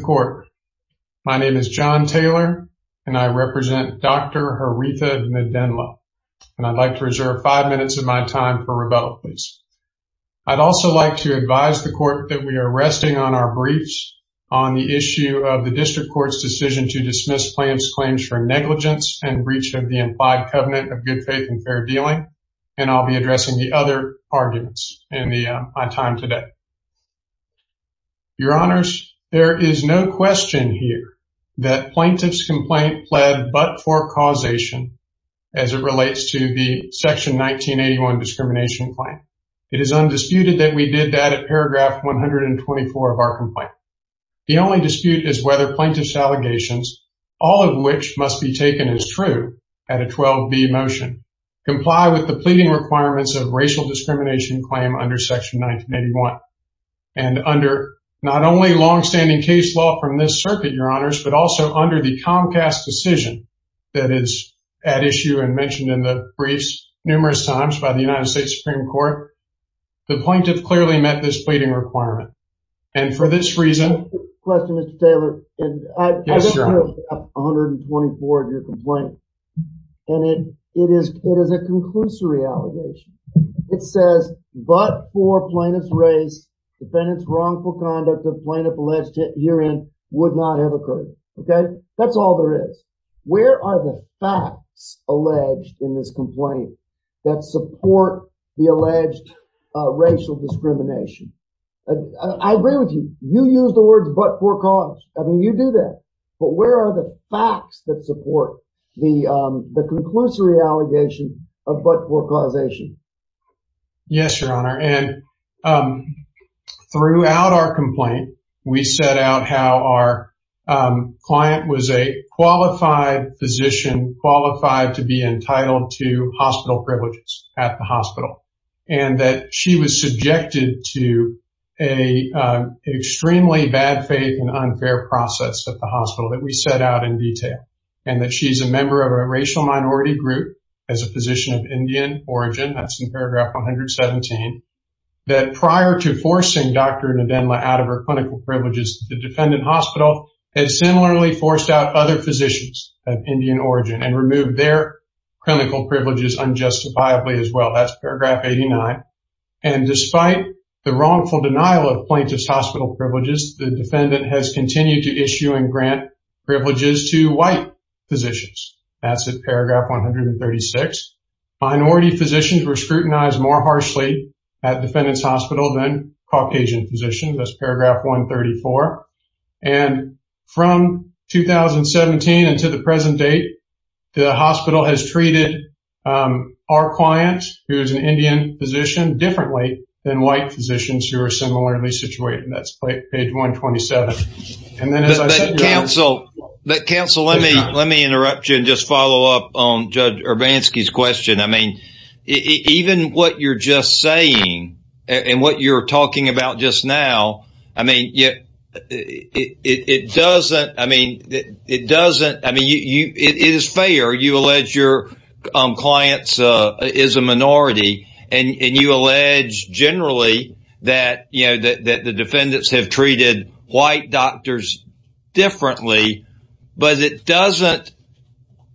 court. My name is John Taylor, and I represent Dr. Haritha Nadendla. And I'd like to reserve five minutes of my time for rebuttal, please. I'd also like to advise the court that we are resting on our briefs on the issue of the district court's decision to dismiss plans claims for negligence and breach of the implied covenant of good faith and fair dealing. And I'll be addressing the other arguments in my time today. Your honors, there is no question here that plaintiff's complaint pled but for causation as it relates to the section 1981 discrimination claim. It is undisputed that we did that at paragraph 124 of our complaint. The only dispute is whether plaintiff's allegations, all of which must be taken as true at a 12b motion, comply with the pleading requirements of racial discrimination claim under section 1981. And under not only longstanding case law from this circuit, your honors, but also under the Comcast decision that is at issue and mentioned in the briefs numerous times by the United States Supreme Court, the plaintiff clearly met this pleading requirement. And for this reason... Question, Mr. Taylor. Yes, your honor. I've It says but for plaintiff's race, defendant's wrongful conduct of plaintiff alleged herein would not have occurred. Okay. That's all there is. Where are the facts alleged in this complaint that support the alleged racial discrimination? I agree with you. You use the words but for cause. I mean, you do that. But where are the facts that support the conclusory allegation of but for causation? Yes, your honor. And throughout our complaint, we set out how our client was a qualified physician qualified to be entitled to hospital privileges at the hospital. And that she was subjected to a extremely bad faith and unfair process at the hospital that we set out in detail. And that she's a member of a racial minority group as a physician of Indian origin. That's in paragraph 117. That prior to forcing Dr. Nadenla out of her clinical privileges, the defendant hospital has similarly forced out other physicians of Indian origin and removed their clinical privileges unjustifiably as well. That's paragraph 89. And despite the wrongful positions, that's in paragraph 136. Minority physicians were scrutinized more harshly at defendant's hospital than Caucasian physicians. That's paragraph 134. And from 2017 until the present date, the hospital has treated our client, who is an Indian physician, differently than white physicians who are similarly situated. That's page 127. And then as I said, your honor. But counsel, let me interrupt you and just follow up on Judge Urbanski's question. I mean, even what you're just saying and what you're talking about just now, I mean, it is fair. You allege your client is a minority. And you allege generally that the defendants have treated white doctors differently. But it doesn't.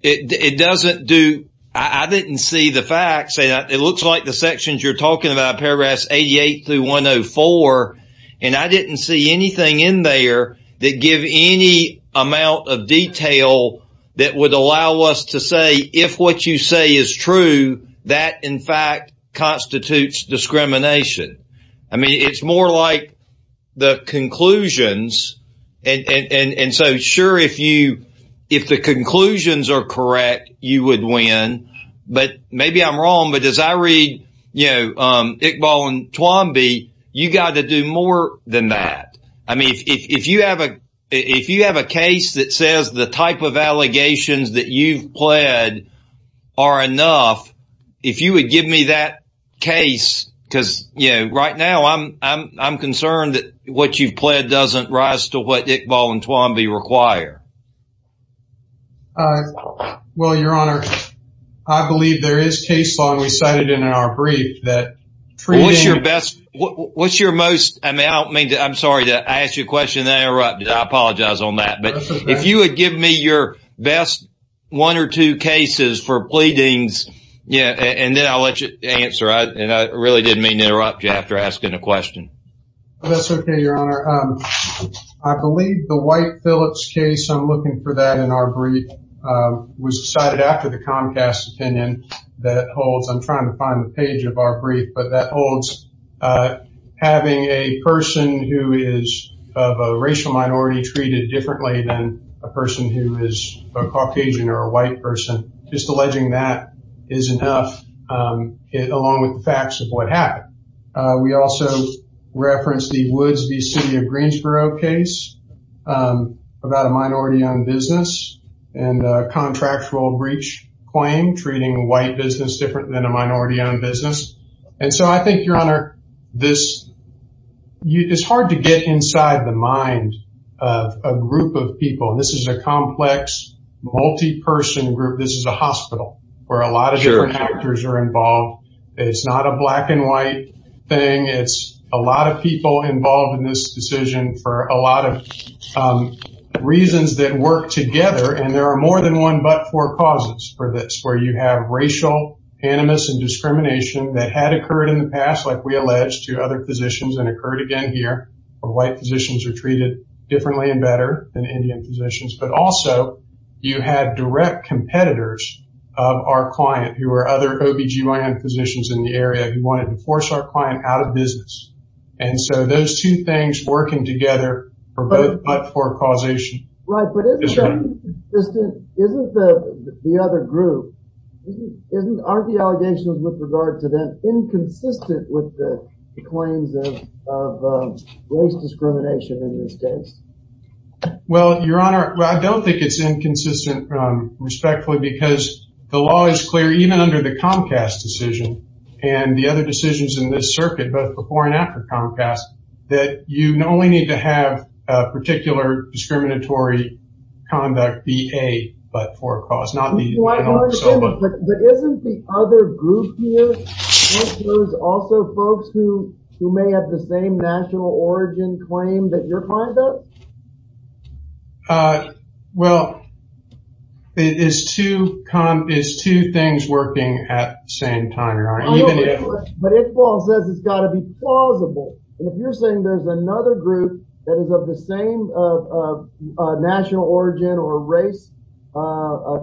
It doesn't do. I didn't see the facts. It looks like the sections you're talking about, paragraphs 88 through 104. And I didn't see anything in there that give any amount of detail that would allow us to say, if what you say is true, that in fact constitutes discrimination. I mean, it's more like the conclusions. And so sure, if the conclusions are correct, you would win. But maybe I'm wrong. But as I read Iqbal and Twombly, you got to do more than that. I mean, if you have a case that says the type of if you would give me that case, because, you know, right now, I'm concerned that what you've pled doesn't rise to what Iqbal and Twombly require. Well, your honor, I believe there is case law we cited in our brief that What's your best? What's your most? I mean, I don't mean to I'm sorry to ask you a question there. I apologize on that. But if you would give me your best one or two cases for pleadings, yeah, and then I'll let you answer. And I really didn't mean to interrupt you after asking a question. That's okay, your honor. I believe the white Phillips case, I'm looking for that in our brief was cited after the Comcast opinion that holds I'm trying to find the page of our brief, but that holds having a person who is of a racial minority treated differently than a person who is a Caucasian or a white person, just alleging that is enough, along with the facts of what happened. We also referenced the Woods v. City of Greensboro case about a minority owned business and contractual breach claim treating white business different than a minority owned business. And so I think your honor, this you it's hard to get inside the mind of a group of people. This is a complex, multi person group. This is a hospital where a lot of actors are involved. It's not a black and white thing. It's a lot of people involved in this decision for a lot of reasons that work together. And there are more than one but four causes for this, where you have racial animus and discrimination that had occurred in the past, like we allege to other positions and occurred again here of white physicians are treated differently and Indian physicians, but also you have direct competitors of our client who are other OBGYN physicians in the area who wanted to force our client out of business. And so those two things working together are both but for causation. Right, but isn't the other group, aren't the allegations with regard to them inconsistent with the claims of race discrimination in this case? Well, your honor, I don't think it's inconsistent, respectfully, because the law is clear even under the Comcast decision, and the other decisions in this circuit, but before and after Comcast, that you only need to have a particular discriminatory conduct VA, but for a cause. But isn't the other group here, also folks who may have the same national origin claim that your client does? Well, it is two things working at the same time, your honor. But if Paul says it's got to be plausible, and if you're saying there's another group that is of the same national origin or race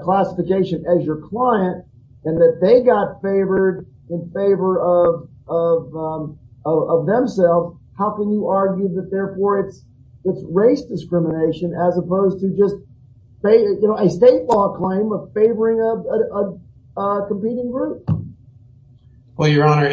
classification as your client, and that they got favored in favor of themselves, how can you argue that therefore it's race discrimination as opposed to just a state law claim of favoring a competing group? Well, your honor,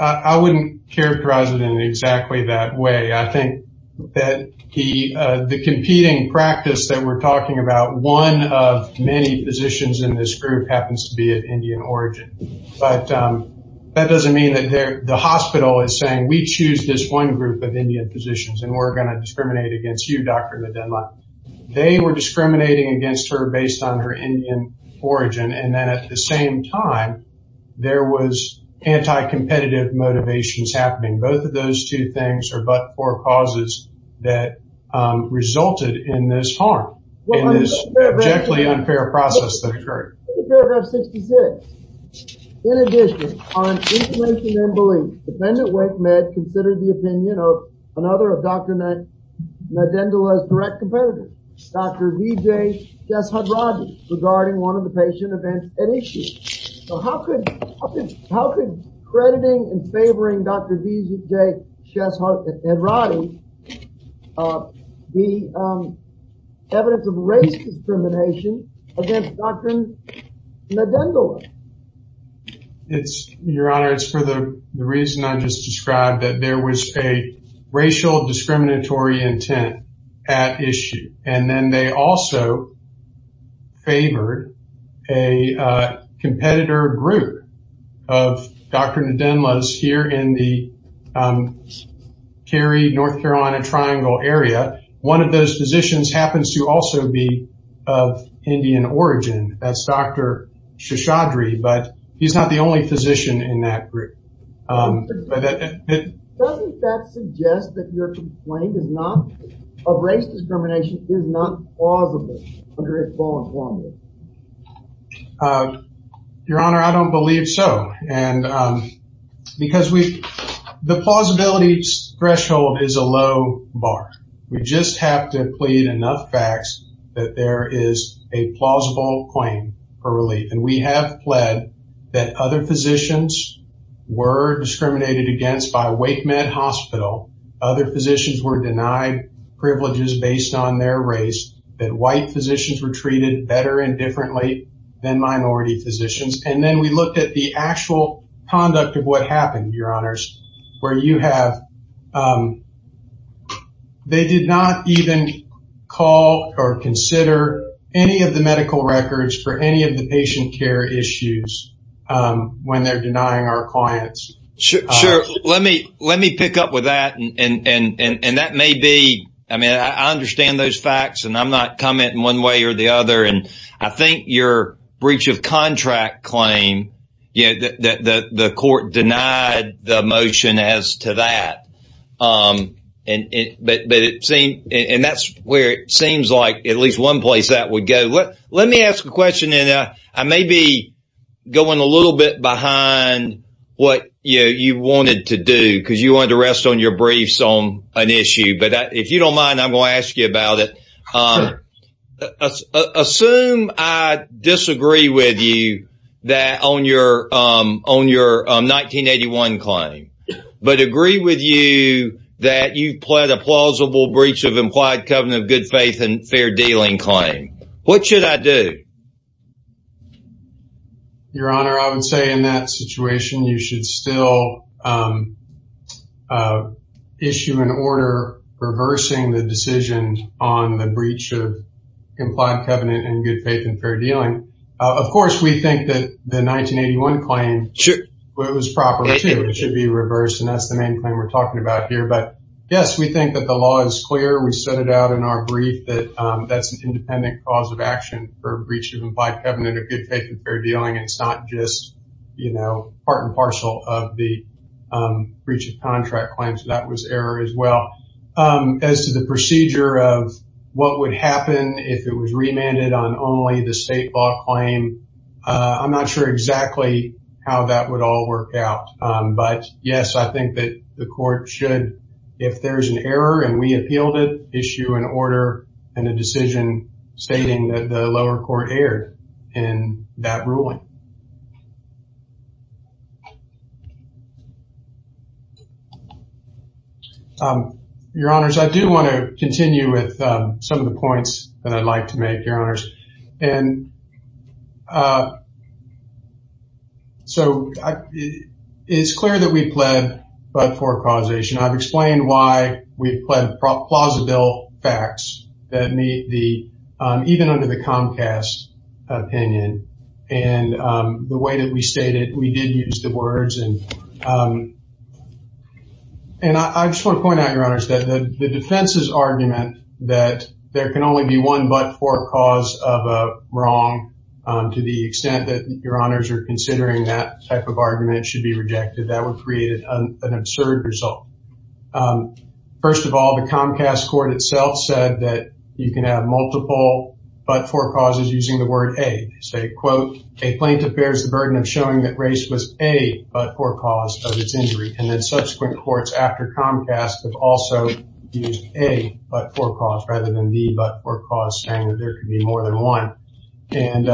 I wouldn't characterize it in exactly that way. I think that the competing practice that we're talking about, one of many positions in this group happens to be of Indian origin. But that doesn't mean that the hospital is saying we choose this one group of Indian positions, and we're going to discriminate against you, Dr. Medina. They were discriminating against her based on her Indian origin, and then at the same time, there was anti-competitive motivations happening. Both of those two things are but for causes that resulted in this harm, in this abjectly unfair process that occurred. Paragraph 66. In addition, on information and belief, defendant Wake Med considered the opinion of another of Dr. Nadendola's direct competitors, Dr. Vijay Sheshadraji, regarding one of the patient events at issue. So how could crediting and favoring Dr. Vijay Sheshadraji be evidence of race discrimination against Dr. Nadendola? Your honor, it's for the reason I just described, that there was a racial discriminatory intent at issue. And then they also favored a competitor group of Dr. Nadendola's here in the Cary, North Carolina Triangle area. One of those positions happens to also be of Indian origin. That's Dr. Sheshadraji, but he's not the only physician in that group. Doesn't that suggest that your complaint is not, of race discrimination, is not plausible under this law and order? Your honor, I don't believe so. And because we, the plausibility threshold is a low bar. We just have to plead enough facts that there is a were discriminated against by Wake Med Hospital. Other physicians were denied privileges based on their race, that white physicians were treated better and differently than minority physicians. And then we looked at the actual conduct of what happened, your honors, where you have, they did not even call or consider any of the medical records for any of the patient care issues when they're denying our clients. Sure. Let me pick up with that. And that may be, I mean, I understand those facts and I'm not commenting one way or the other. And I think your breach of contract claim, the court denied the motion as to that. And that's where it seems like at least one place that would go. Let me ask a question and I may be going a little bit behind what you wanted to do because you wanted to rest on your briefs on an issue. But if you don't mind, I'm going to ask you about it. Assume I disagree with you that on your 1981 claim, but agree with you that you pled a plausible breach of implied covenant, good faith and fair dealing claim. What should I do? Your honor, I would say in that situation, you should still issue an order reversing the decision on the breach of implied covenant and good faith and fair dealing. Of course, we think that the 1981 claim was proper. It should be reversed. And that's the main claim we're talking about here. But yes, we think that the law is clear. We set it out in our brief that that's an independent cause of action for breach of implied covenant of good faith and fair dealing. It's not just part and parcel of the breach of contract claims. That was error as well. As to the procedure of what would happen if it was remanded on only the state claim, I'm not sure exactly how that would all work out. But yes, I think that the court should, if there's an error and we appealed it, issue an order and a decision stating that the lower court erred in that ruling. Your honors, I do want to continue with some of the points that I'd like to make, your honors. And so it's clear that we pled but for causation. I've explained why we pled plausible facts that meet the, even under the Comcast opinion and the way that we stated, we did use the words. And I just want to point out, your honors, that the defense's argument that there can only be one but for cause of a wrong, to the extent that your honors are considering that type of argument should be rejected. That would create an absurd result. First of all, the Comcast court itself said that you can have multiple but for causes using the word a, say quote, a plaintiff bears the burden of showing that race was a but for cause of a but for cause rather than the but for cause saying that there could be more than one. And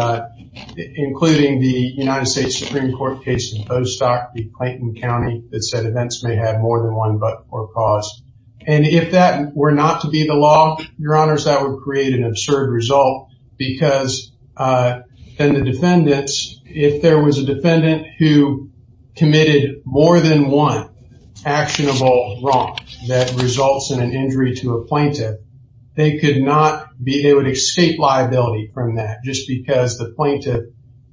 including the United States Supreme Court case in Postoc, the Clayton County that said events may have more than one but for cause. And if that were not to be the law, your honors, that would create an absurd result because then the defendants, if there was a defendant who a plaintiff, they could not be able to escape liability from that just because the plaintiff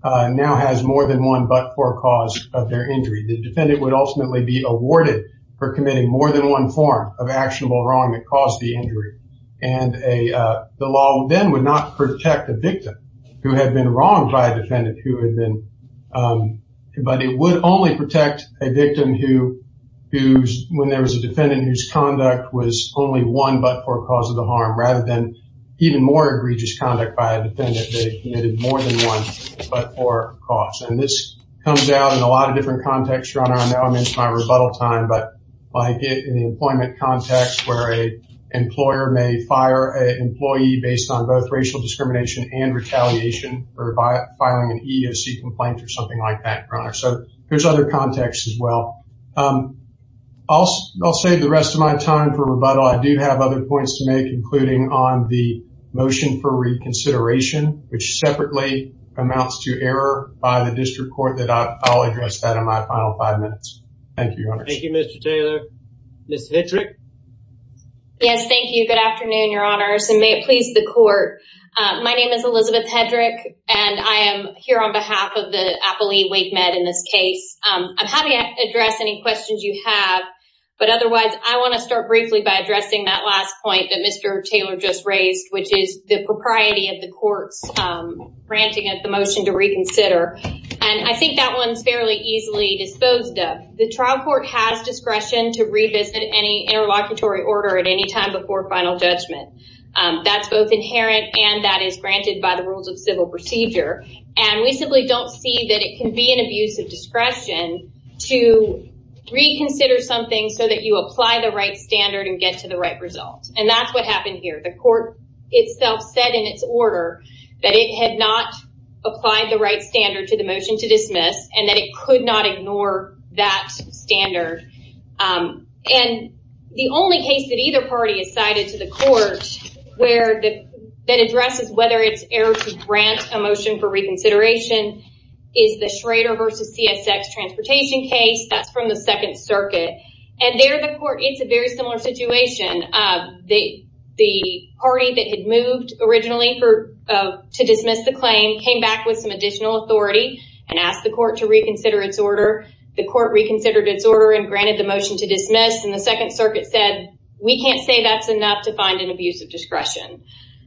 now has more than one but for cause of their injury. The defendant would ultimately be awarded for committing more than one form of actionable wrong that caused the injury. And the law then would not protect the victim who had been wronged by a defendant who had been, but it would only protect a victim who, when there was a defendant whose conduct was only one but for cause of the harm rather than even more egregious conduct by a defendant, they committed more than one but for cause. And this comes out in a lot of different contexts, your honor. I know I'm into my rebuttal time, but like in the employment context where a employer may fire an employee based on both racial discrimination and retaliation or by firing an EEOC complaint or something like that, your honor. So there's other contexts as well. I'll save the rest of my time for rebuttal. I do have other points to make, including on the motion for reconsideration, which separately amounts to error by the district court that I'll address that in my final five minutes. Thank you, your honors. Thank you, Mr. Taylor. Ms. Hedrick? Yes, thank you. Good afternoon, your honors, and may it please the court. My name is Elizabeth Hedrick and I am here on behalf of the appellee wake med in this case. I'm happy to address any questions you have, but otherwise I want to start briefly by addressing that last point that Mr. Taylor just raised, which is the propriety of the court's granting of the motion to reconsider. And I think that one's fairly easily disposed of. The trial court has discretion to revisit any interlocutory order at any time before final judgment. That's both inherent and that is granted by the rules of civil procedure. And we simply don't see that it can be an abuse of discretion to reconsider something so that you apply the right standard and get to the right result. And that's what happened here. The court itself said in its order that it had not applied the right standard to the motion to dismiss and that it could not ignore that standard. And the only case that either party is cited to the court that addresses whether it's error to grant a motion for reconsideration is the Schrader versus CSX transportation case. That's from the second circuit. And there the court, it's a very similar situation. The party that had moved originally to dismiss the claim came back with some additional authority and asked the court to reconsider its order. The court reconsidered its order and granted the motion to dismiss. And the second circuit said we can't say that's enough to find an abuse of discretion.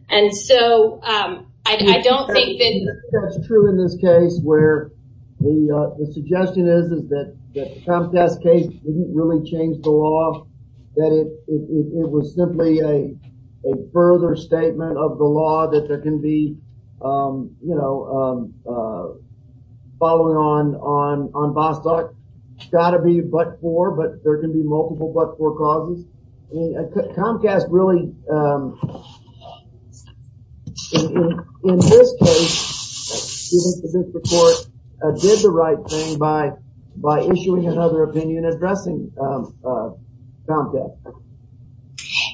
And so I don't think that's true in this case where the suggestion is that the Comcast case didn't really change the law. That it was simply a further statement of the law that there can be, you know, following on Bostock. It's got to be but for but there can be multiple but for causes. Comcast really, in this case, did the right thing by issuing another opinion addressing Comcast.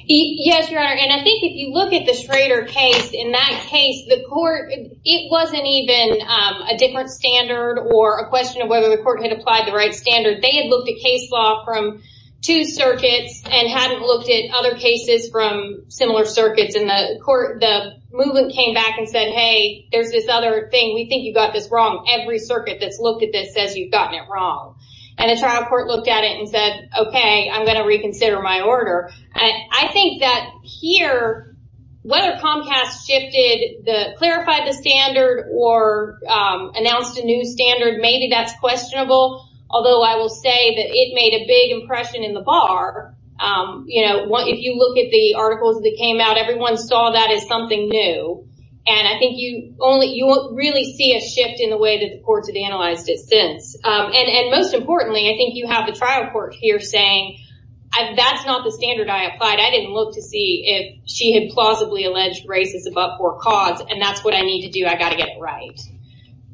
Yes, your honor. And I think if you look at the Schrader case, in that case, the court, it wasn't even a different standard or a question of whether the court had applied the right standard. They had looked at case law from two circuits and hadn't looked at other cases from similar circuits. And the court, the movement came back and said, hey, there's this other thing. We think you got this wrong. Every circuit that's looked at this says you've gotten it wrong. And the trial court looked at it and said, okay, I'm going to reconsider my order. I think that here, whether Comcast shifted the, clarified the standard or announced a new standard, maybe that's questionable. Although I will say that it made a big impression in the bar. You know, if you look at the articles that came out, everyone saw that as something new. And I think you only, you won't really see a shift in the way that the courts have analyzed it since. And most importantly, I think you have the trial court here saying, that's not the standard I applied. I didn't look to see if she had plausibly alleged racist above cause. And that's what I need to do. I got to get it right.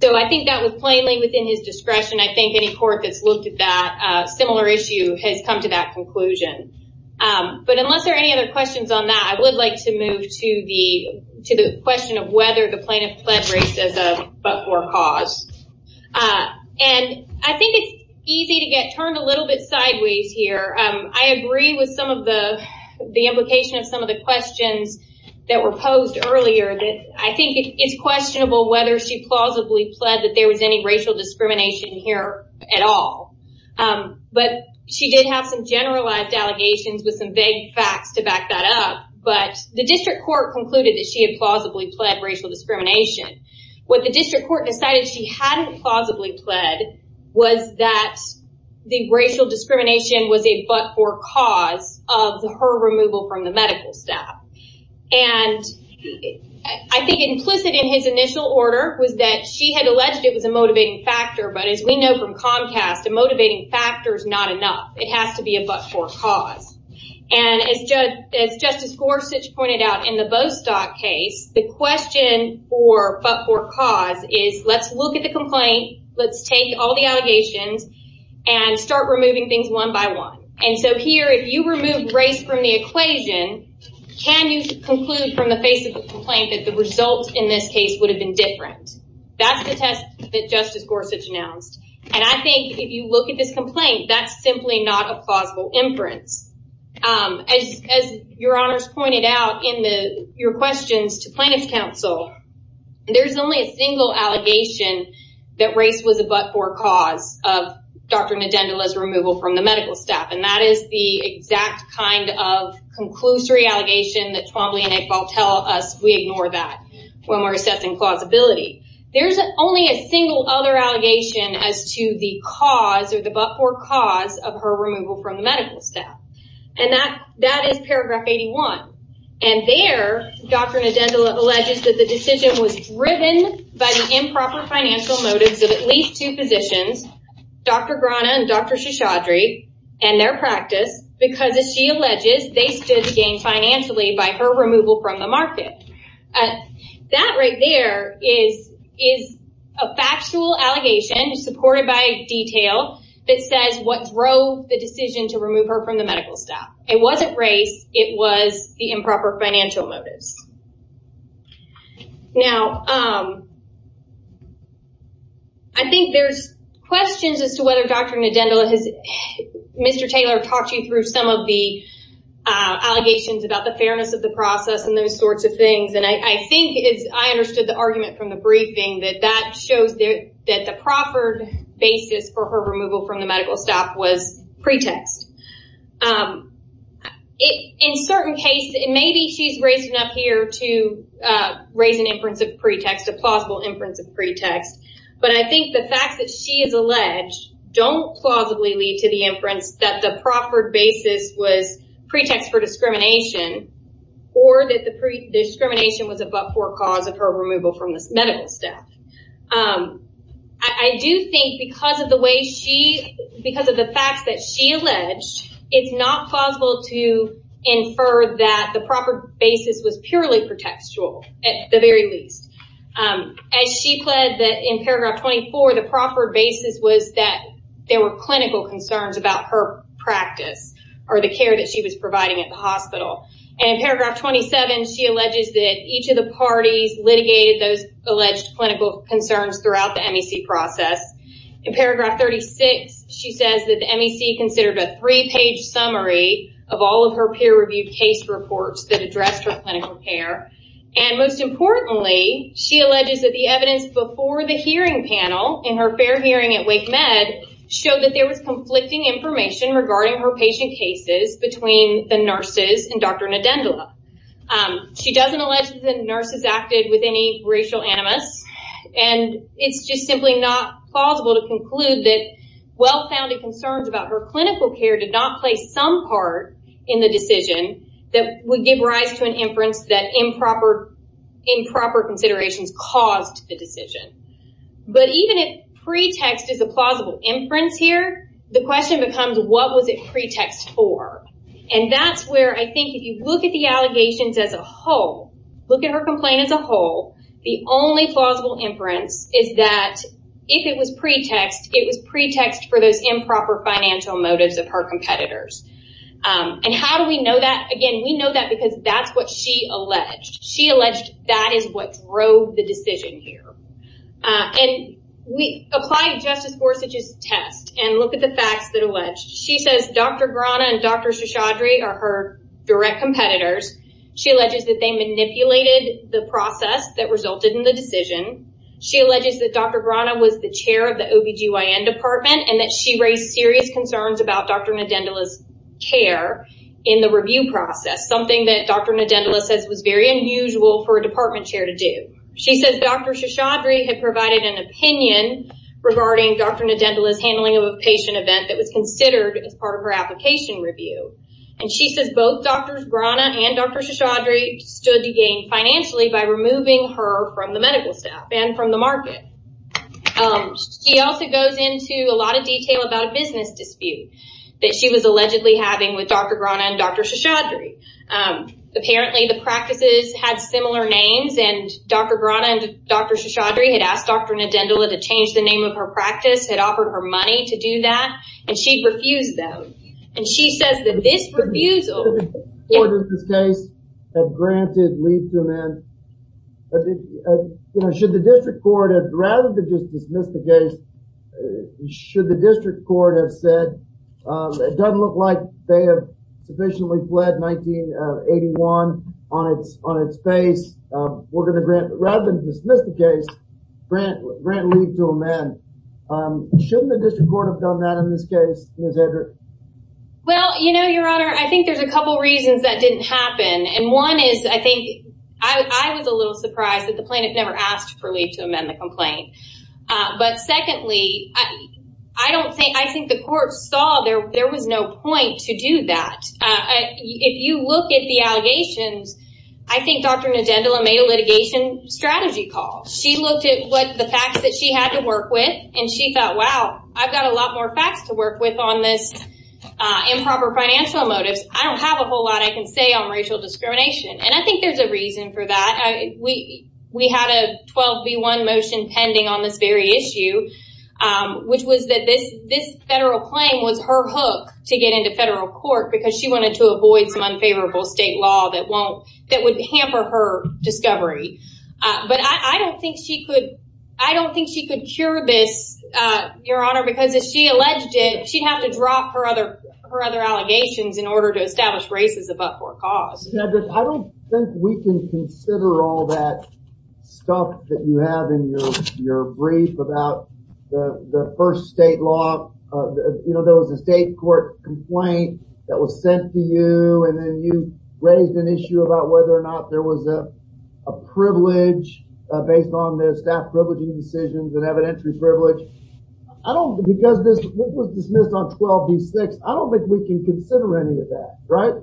So I think that was plainly within his discretion. I think any court that's looked at that similar issue has come to that conclusion. But unless there are any other questions on that, I would like to move to the, to the question of whether the plaintiff pledged racism but for cause. And I think it's easy to get turned a little bit sideways here. I agree with some of the, the implication of some of the questions that were posed earlier that I think it's questionable whether she plausibly pled that there was any racial discrimination here at all. But she did have some generalized allegations with some vague facts to back that up. But the district court concluded that she had plausibly pled racial discrimination. What the district court decided she hadn't plausibly pled was that the racial discrimination was a but-for-cause of her removal from the medical staff. And I think implicit in his initial order was that she had alleged it was a motivating factor. But as we know from Comcast, a motivating factor is not enough. It has to be a but-for-cause. And as Judge, as Justice Gorsuch pointed out in the Bostock case, the question for but-for-cause is let's look at the complaint. Let's take all the allegations and start removing things one by one. And so here, if you remove race from the equation, can you conclude from the face of the complaint that the result in this case would have been different? That's the test that Justice Gorsuch announced. And I think if you look at this complaint, that's simply not a plausible inference. As your honors pointed out in the, your questions to plaintiff's counsel, there's only a single allegation that race was a but-for-cause of Dr. Ndendola's removal from the medical staff. And that is the exact kind of conclusory allegation that Twombly and Iqbal tell us we ignore that when we're assessing plausibility. There's only a single other allegation as to the cause or the but-for-cause of her removal from the medical staff. And that, that is paragraph 81. And there, Dr. Ndendola alleges that the decision was driven by the improper financial motives of at least two physicians, Dr. Grana and Dr. Shishadri, and their practice, because as she alleges, they stood to gain financially by her removal from the market. That right there is a factual allegation supported by detail that says what drove the race, it was the improper financial motives. Now, I think there's questions as to whether Dr. Ndendola has, Mr. Taylor talked you through some of the allegations about the fairness of the process and those sorts of things. And I think it's, I understood the argument from the briefing that that shows that the proffered basis for her removal from the medical staff was pretext. In certain cases, and maybe she's raising up here to raise an inference of pretext, a plausible inference of pretext. But I think the fact that she is alleged don't plausibly lead to the inference that the proffered basis was pretext for discrimination or that the pre-discrimination was a but-for-cause of her removal from this medical staff. I do think because of the way she, because of the facts that she alleged, it's not plausible to infer that the proper basis was purely pretextual, at the very least. As she pled that in paragraph 24, the proffered basis was that there were clinical concerns about her practice or the care that she was providing at the hospital. And in paragraph 27, she alleges that each of the parties litigated those alleged clinical concerns throughout the MEC process. In paragraph 36, she says that the MEC considered a three-page summary of all of her peer-reviewed case reports that addressed her clinical care. And most importantly, she alleges that the evidence before the hearing panel in her fair hearing at Wake Med showed that there was conflicting information regarding her patient cases between the nurses and Dr. Ndendola. She doesn't allege that the nurses acted with any racial animus, and it's just simply not plausible to conclude that well-founded concerns about her clinical care did not play some part in the decision that would give rise to an inference that improper considerations caused the decision. But even if pretext is a plausible inference here, the question becomes, what was it pretext for? And that's where I think if you look at the only plausible inference is that if it was pretext, it was pretext for those improper financial motives of her competitors. And how do we know that? Again, we know that because that's what she alleged. She alleged that is what drove the decision here. And we apply Justice Gorsuch's test and look at the facts that are alleged. She says Dr. Grana and Dr. Shashadri are her competitors. She alleges that they manipulated the process that resulted in the decision. She alleges that Dr. Grana was the chair of the OBGYN department and that she raised serious concerns about Dr. Ndendola's care in the review process, something that Dr. Ndendola says was very unusual for a department chair to do. She says Dr. Shashadri had provided an opinion regarding Dr. Ndendola's handling of a patient event that was considered as part of her application review. And she says both Drs. Grana and Dr. Shashadri stood to gain financially by removing her from the medical staff and from the market. She also goes into a lot of detail about a business dispute that she was allegedly having with Dr. Grana and Dr. Shashadri. Apparently the practices had similar names and Dr. Grana and Dr. Shashadri had asked Dr. Ndendola to change the name of her office. Should the district court rather than dismiss the case, should the district court have said it doesn't look like they have sufficiently fled 1981 on its face. Rather than dismiss the case, grant leave to amend. Shouldn't the district court have done that in this case, Ms. Hendrick? Well, you know, Your Honor, I think there's a couple reasons that didn't happen. And one is, I think, I was a little surprised that the plaintiff never asked for leave to amend the complaint. But secondly, I don't think, I think the court saw there was no point to do that. If you look at the allegations, I think Dr. Ndendola made a litigation strategy call. She looked at what the facts that she had to work with and she thought, wow, I've got a lot more facts to work with on this improper financial motives. I don't have a whole lot I can say on racial discrimination. And I think there's a reason for that. We had a 12 v. 1 motion pending on this very issue, which was that this, this federal claim was her hook to get into federal court because she wanted to avoid some unfavorable state law that won't, that would hamper her discovery. But I don't think she could, I don't think she could cure this, Your Honor, because she alleged it, she'd have to drop her other, her other allegations in order to establish races above court cause. Yeah, but I don't think we can consider all that stuff that you have in your, your brief about the first state law. You know, there was a state court complaint that was sent to you and then you raised an issue about whether or not there was a privilege based on the staff decisions that have an entry privilege. I don't, because this was dismissed on 12 v. 6, I don't think we can consider any of that, right?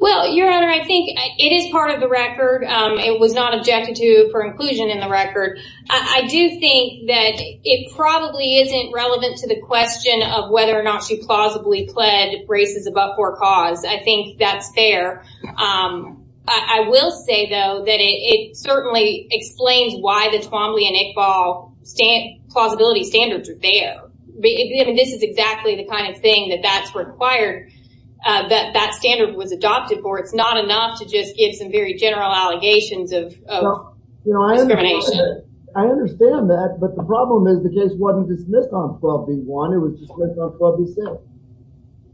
Well, Your Honor, I think it is part of the record. It was not objected to for inclusion in the record. I do think that it probably isn't relevant to the question of whether or not she plausibly pled races above court cause. I think that's fair. I will say, though, that it certainly explains why the Twombly and Iqbal plausibility standards are there. I mean, this is exactly the kind of thing that that's required, that that standard was adopted for. It's not enough to just give some very general allegations of discrimination. I understand that, but the problem is the case wasn't dismissed on 12 v. 1, it was dismissed on 12 v.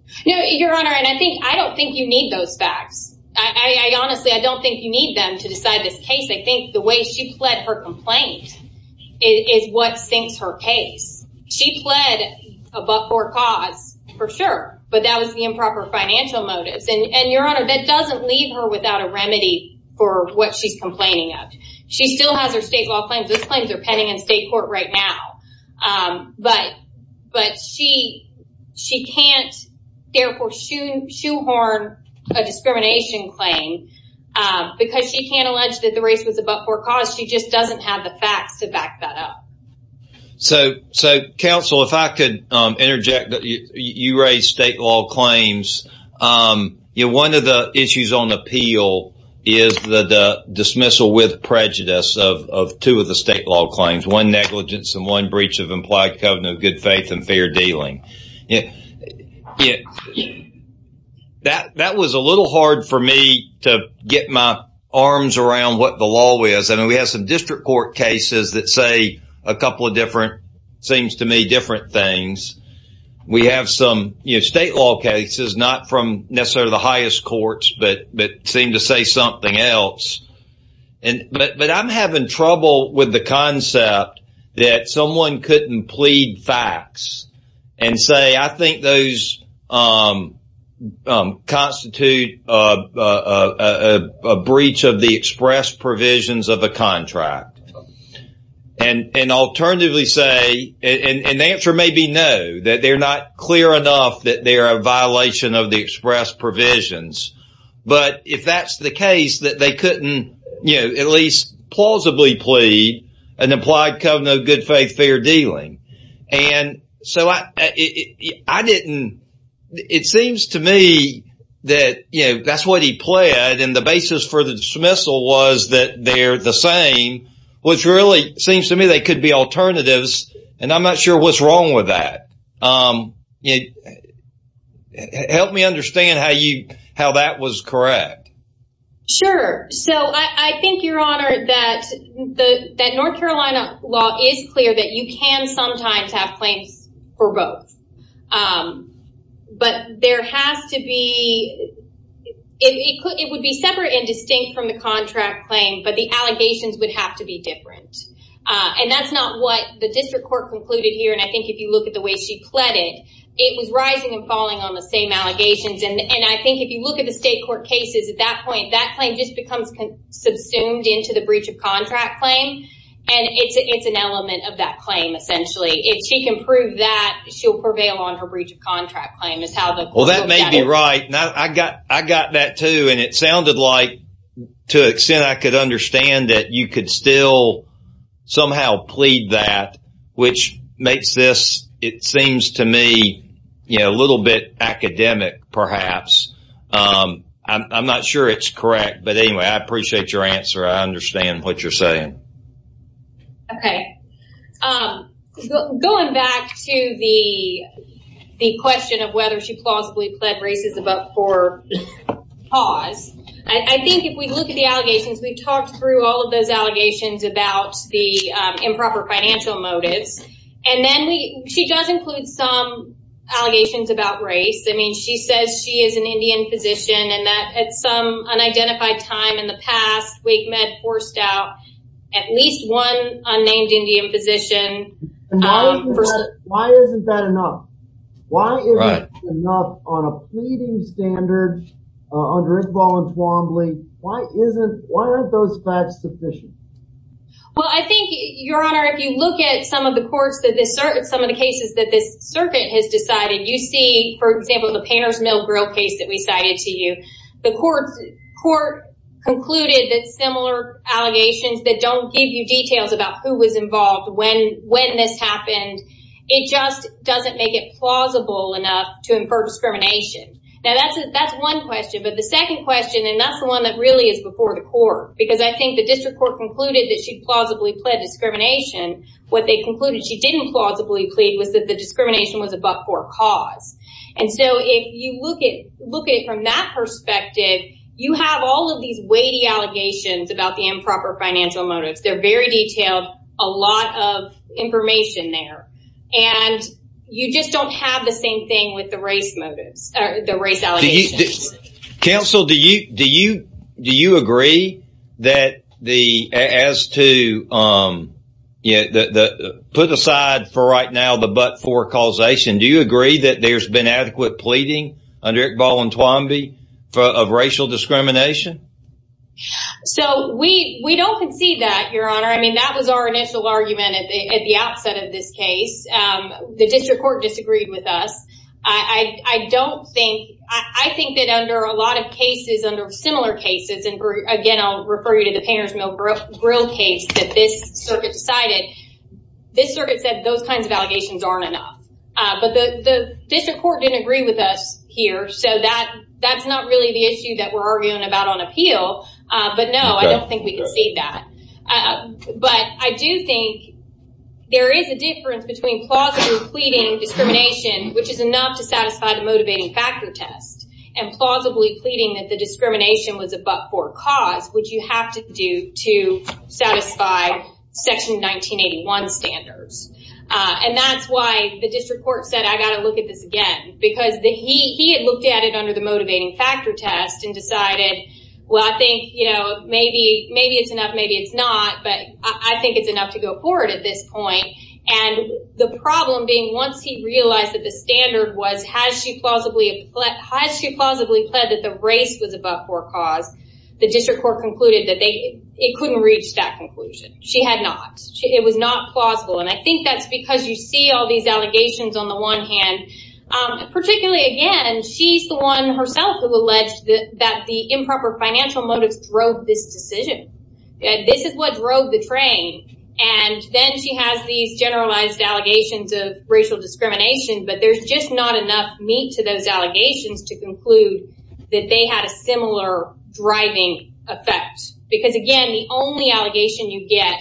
6. No, Your Honor, and I think, I don't think you need those facts. Honestly, I don't think you need them to decide this case. I think the way she pled her complaint is what sinks her case. She pled above court cause for sure, but that was the improper financial motives. And Your Honor, that doesn't leave her without a remedy for what she's complaining of. She still has her state law claims. Those claims are pending in state court right now. But she can't therefore shoehorn a discrimination claim because she can't allege that the race was above court cause. She just doesn't have the facts to back that up. So, counsel, if I could interject, you raised state law claims. One of the issues on appeal is the dismissal with prejudice of two of the state law claims, one negligence and one breach of implied covenant of good faith and fair dealing. That was a little hard for me to get my arms around what the law is. I mean, we have some district court cases that say a couple of different, seems to me, different things. We have some state law cases, not from necessarily the highest courts, but seem to say something else. But I'm having trouble with the concept that someone couldn't plead facts and say, I think those constitute a breach of the express provisions of a contract. And alternatively say, and the answer may be no, that they're not clear enough that they are a violation of the express provisions. But if that's the case, that they couldn't, you know, at least plausibly plead an implied covenant of good faith, fair dealing. And so I didn't, it seems to me that, you know, that's what he pled. And the basis for the dismissal was that they're the same, which really seems to me they could be alternatives. And I'm not sure what's wrong with that. Help me understand how you, how that was correct. Sure. So I think your honor that the, that North Carolina law is clear that you can sometimes have claims for both. But there has to be, it would be separate and distinct from the contract claim, but the allegations would have to be different. And that's not what the district court concluded here. And I think if you look at the way she pled it, it was rising and falling on the same cases. At that point, that claim just becomes subsumed into the breach of contract claim. And it's an element of that claim. Essentially, if she can prove that she'll prevail on her breach of contract claim is how that may be right. Now, I got, I got that too. And it sounded like, to an extent, I could understand that you could still somehow plead that, which makes this, it seems to me, you know, a little bit academic, perhaps. I'm not sure it's correct, but anyway, I appreciate your answer. I understand what you're saying. Okay. Going back to the, the question of whether she plausibly pled races above for pause. I think if we look at the allegations, we've talked through all of those allegations about the improper financial motives. And then we, she does include some allegations about race. I mean, she says she is an Indian physician and that at some unidentified time in the past, Wake Med forced out at least one unnamed Indian physician. Why isn't that enough? Why isn't that enough on a pleading standard under Iqbal and Twombly? Why isn't, why aren't those facts sufficient? Well, I think your honor, if you look at some of the courts that this, some of the cases that this circuit has decided, you see, for example, the painter's mill grill case that we cited to you, the court, court concluded that similar allegations that don't give you details about who was involved when, when this happened, it just doesn't make it plausible enough to infer discrimination. Now that's, that's one question, but the second question, and that's the one that really is before the court, because I think the district court concluded that she plausibly pled discrimination. What they concluded she didn't plausibly plead was that the discrimination was above for cause. And so if you look at, look at it from that perspective, you have all of these weighty allegations about the improper financial motives. They're very detailed, a lot of the race allegations. Counsel, do you, do you, do you agree that the, as to, yeah, put aside for right now, the but for causation, do you agree that there's been adequate pleading under Iqbal and Twombly of racial discrimination? So we, we don't concede that your honor. I mean, that was our initial argument at the, at the outset of this case. The district court disagreed with us. I, I, I don't think, I think that under a lot of cases, under similar cases, and again, I'll refer you to the painter's mill grill case that this circuit decided, this circuit said those kinds of allegations aren't enough. But the, the district court didn't agree with us here. So that, that's not really the issue that we're arguing about on plausibly pleading discrimination, which is enough to satisfy the motivating factor test, and plausibly pleading that the discrimination was a but for cause, which you have to do to satisfy section 1981 standards. And that's why the district court said, I got to look at this again, because the, he, he had looked at it under the motivating factor test and decided, well, I think, you know, maybe, maybe it's enough, maybe it's not, but I think it's enough to go forward at this point. And the problem being once he realized that the standard was, has she plausibly, has she plausibly pled that the race was a but for cause, the district court concluded that they, it couldn't reach that conclusion. She had not. It was not plausible. And I think that's because you see all these allegations on the one hand, particularly again, she's the one herself who alleged that the improper financial motives drove this decision. This is what drove the train. And then she has these generalized allegations of racial discrimination, but there's just not enough meat to those allegations to conclude that they had a similar driving effect. Because again, the only allegation you get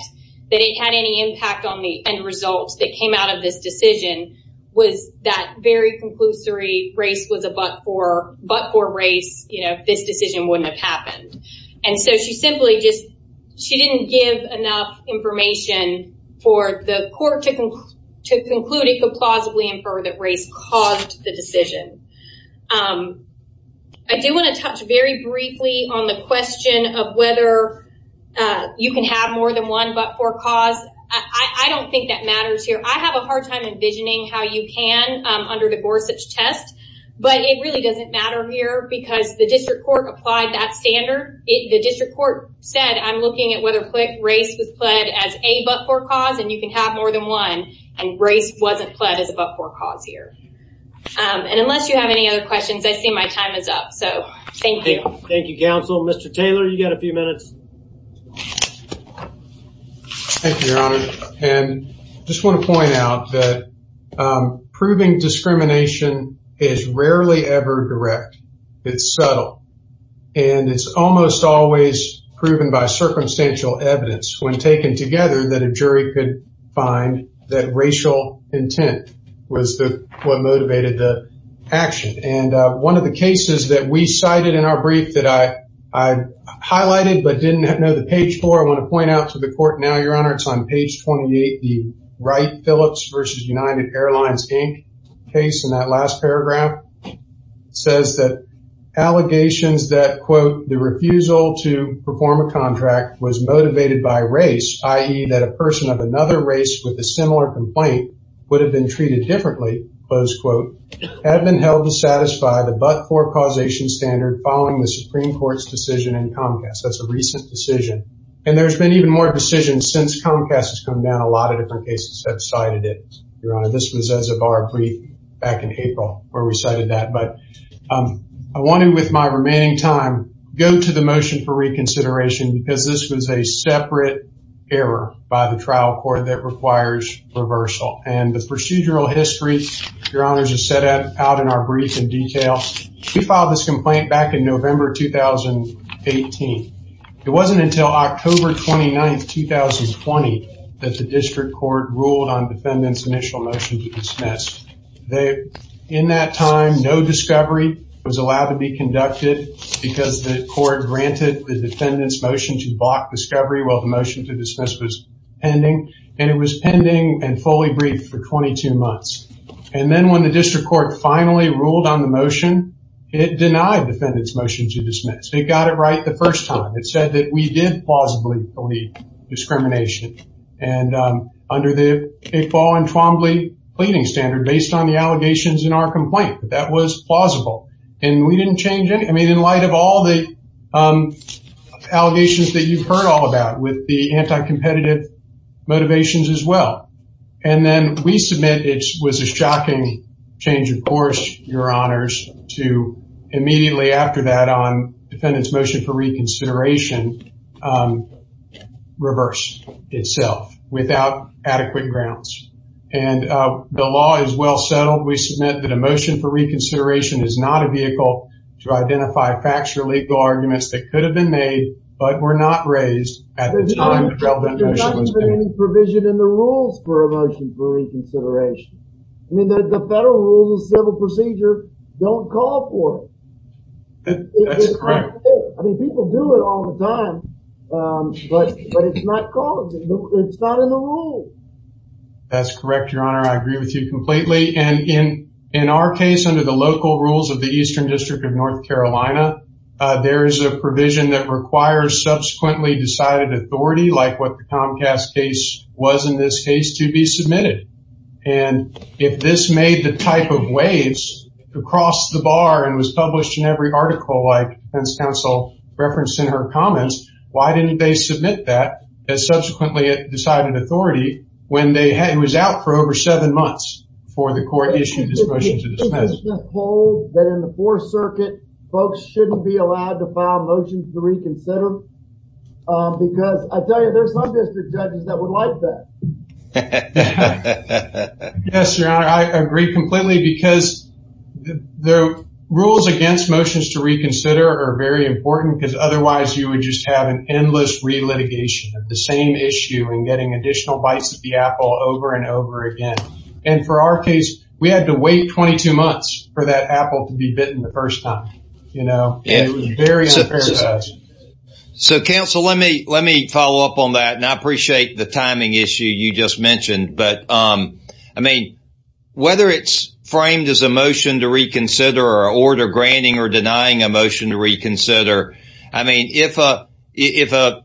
that it had any impact on the end results that came out of this decision was that very conclusory race was a but for, but for race, you know, this decision wouldn't have happened. And so she simply just, she didn't give enough information for the court to conclude it could plausibly infer that race caused the decision. I do want to touch very briefly on the question of whether you can have more than one but for cause. I don't think that matters here. I have a hard time envisioning how you can under the Gorsuch test, but it really doesn't matter here because the district court applied that standard. The district court said, I'm looking at whether race was pled as a but for cause and you can have more than one and race wasn't pled as a but for cause here. And unless you have any other questions, I see my time is up. So thank you. Thank you, counsel. Mr. Taylor, you got a few minutes. Thank you, your honor. And I just want to point out that proving discrimination is rarely ever direct. It's subtle and it's almost always proven by circumstantial evidence when taken together that a jury could find that racial intent was the what motivated the action. And one of the cases that we cited in our brief that I highlighted but didn't know the page for, I want to point out to the court now, your honor, it's on page 28. The Wright Phillips versus United Airlines Inc. case in that last paragraph says that allegations that, quote, the refusal to perform a contract was motivated by race, i.e. that a person of another race with a similar complaint would have been following the Supreme Court's decision in Comcast. That's a recent decision. And there's been even more decisions since Comcast has come down a lot of different cases that cited it, your honor. This was as of our brief back in April where we cited that. But I wanted with my remaining time go to the motion for reconsideration because this was a separate error by the trial court that requires reversal. And the procedural history, your honors, is set out in our brief in this complaint back in November 2018. It wasn't until October 29, 2020, that the district court ruled on defendant's initial motion to dismiss. In that time, no discovery was allowed to be conducted because the court granted the defendant's motion to block discovery while the motion to dismiss was pending. And it was pending and fully briefed for 22 months. And then when the district court finally ruled on the motion, it denied defendant's motion to dismiss. It got it right the first time. It said that we did plausibly believe discrimination. And under the Iqbal and Twombly pleading standard, based on the allegations in our complaint, that was plausible. And we didn't change anything. I mean, in light of all the allegations that you've heard all about with the anti-competitive motivations as well. And then we submit it was a shocking change of course, your honors, to immediately after that on defendant's motion for reconsideration reverse itself without adequate grounds. And the law is well settled. We submit that a motion for reconsideration is not a vehicle to identify facts or legal arguments that could have been made but were not raised at the time. There's not been any provision in the rules for a motion for reconsideration. I mean, the federal rules of civil procedure don't call for it. That's correct. I mean, people do it all the time. But it's not called. It's not in the rules. That's correct, your honor. I agree with you completely. And in our case, under the local rules of the Eastern District of North Carolina, there is a provision that requires subsequently decided authority, like what the Comcast case was in this case, to be submitted. And if this made the type of waves across the bar and was published in every article like defense counsel referenced in her comments, why didn't they submit that as subsequently decided authority when it was out for over seven months before the court issued this motion to dismiss it? Did you just hold that in the Fourth Circuit, folks shouldn't be allowed to file motions to reconsider? Because I tell you, there's some district judges that would like that. Yes, your honor. I agree completely because the rules against motions to reconsider are very important because otherwise you would just have an endless re-litigation of the same issue and getting additional bites at the apple over and over again. And for our case, we had to wait 22 months for that apple to be bitten the first time. It was very unfair to us. So counsel, let me follow up on that. And I appreciate the timing issue you just mentioned. But I mean, whether it's framed as a motion to reconsider or an order granting or denying a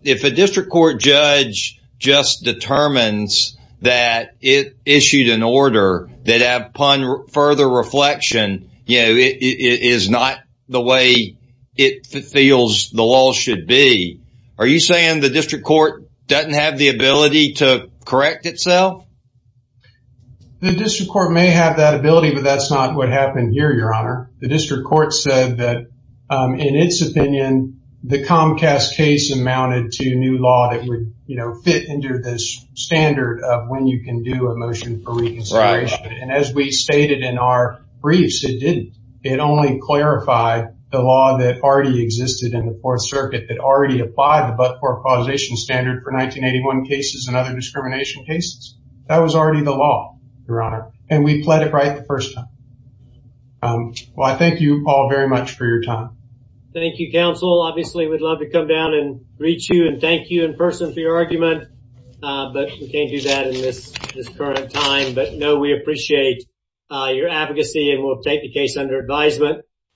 district court judge just determines that it issued an order that upon further reflection, it is not the way it feels the law should be. Are you saying the district court doesn't have the ability to correct itself? The district court may have that ability, but that's not what happened here, your honor. The district court said that in its opinion, the Comcast case amounted to new law that would, you know, fit into this standard of when you can do a motion for reconsideration. And as we stated in our briefs, it didn't. It only clarified the law that already existed in the Fourth Circuit that already applied the but-for-approval standard for 1981 cases and other discrimination cases. That was already the law, your honor. And we pled it right the first time. Well, I thank you all very much for your time. Thank you, counsel. Obviously, we'd love to come down and reach you and thank you in person for your argument, but we can't do that in this current time. But no, we appreciate your advocacy and we'll take the case under advisement.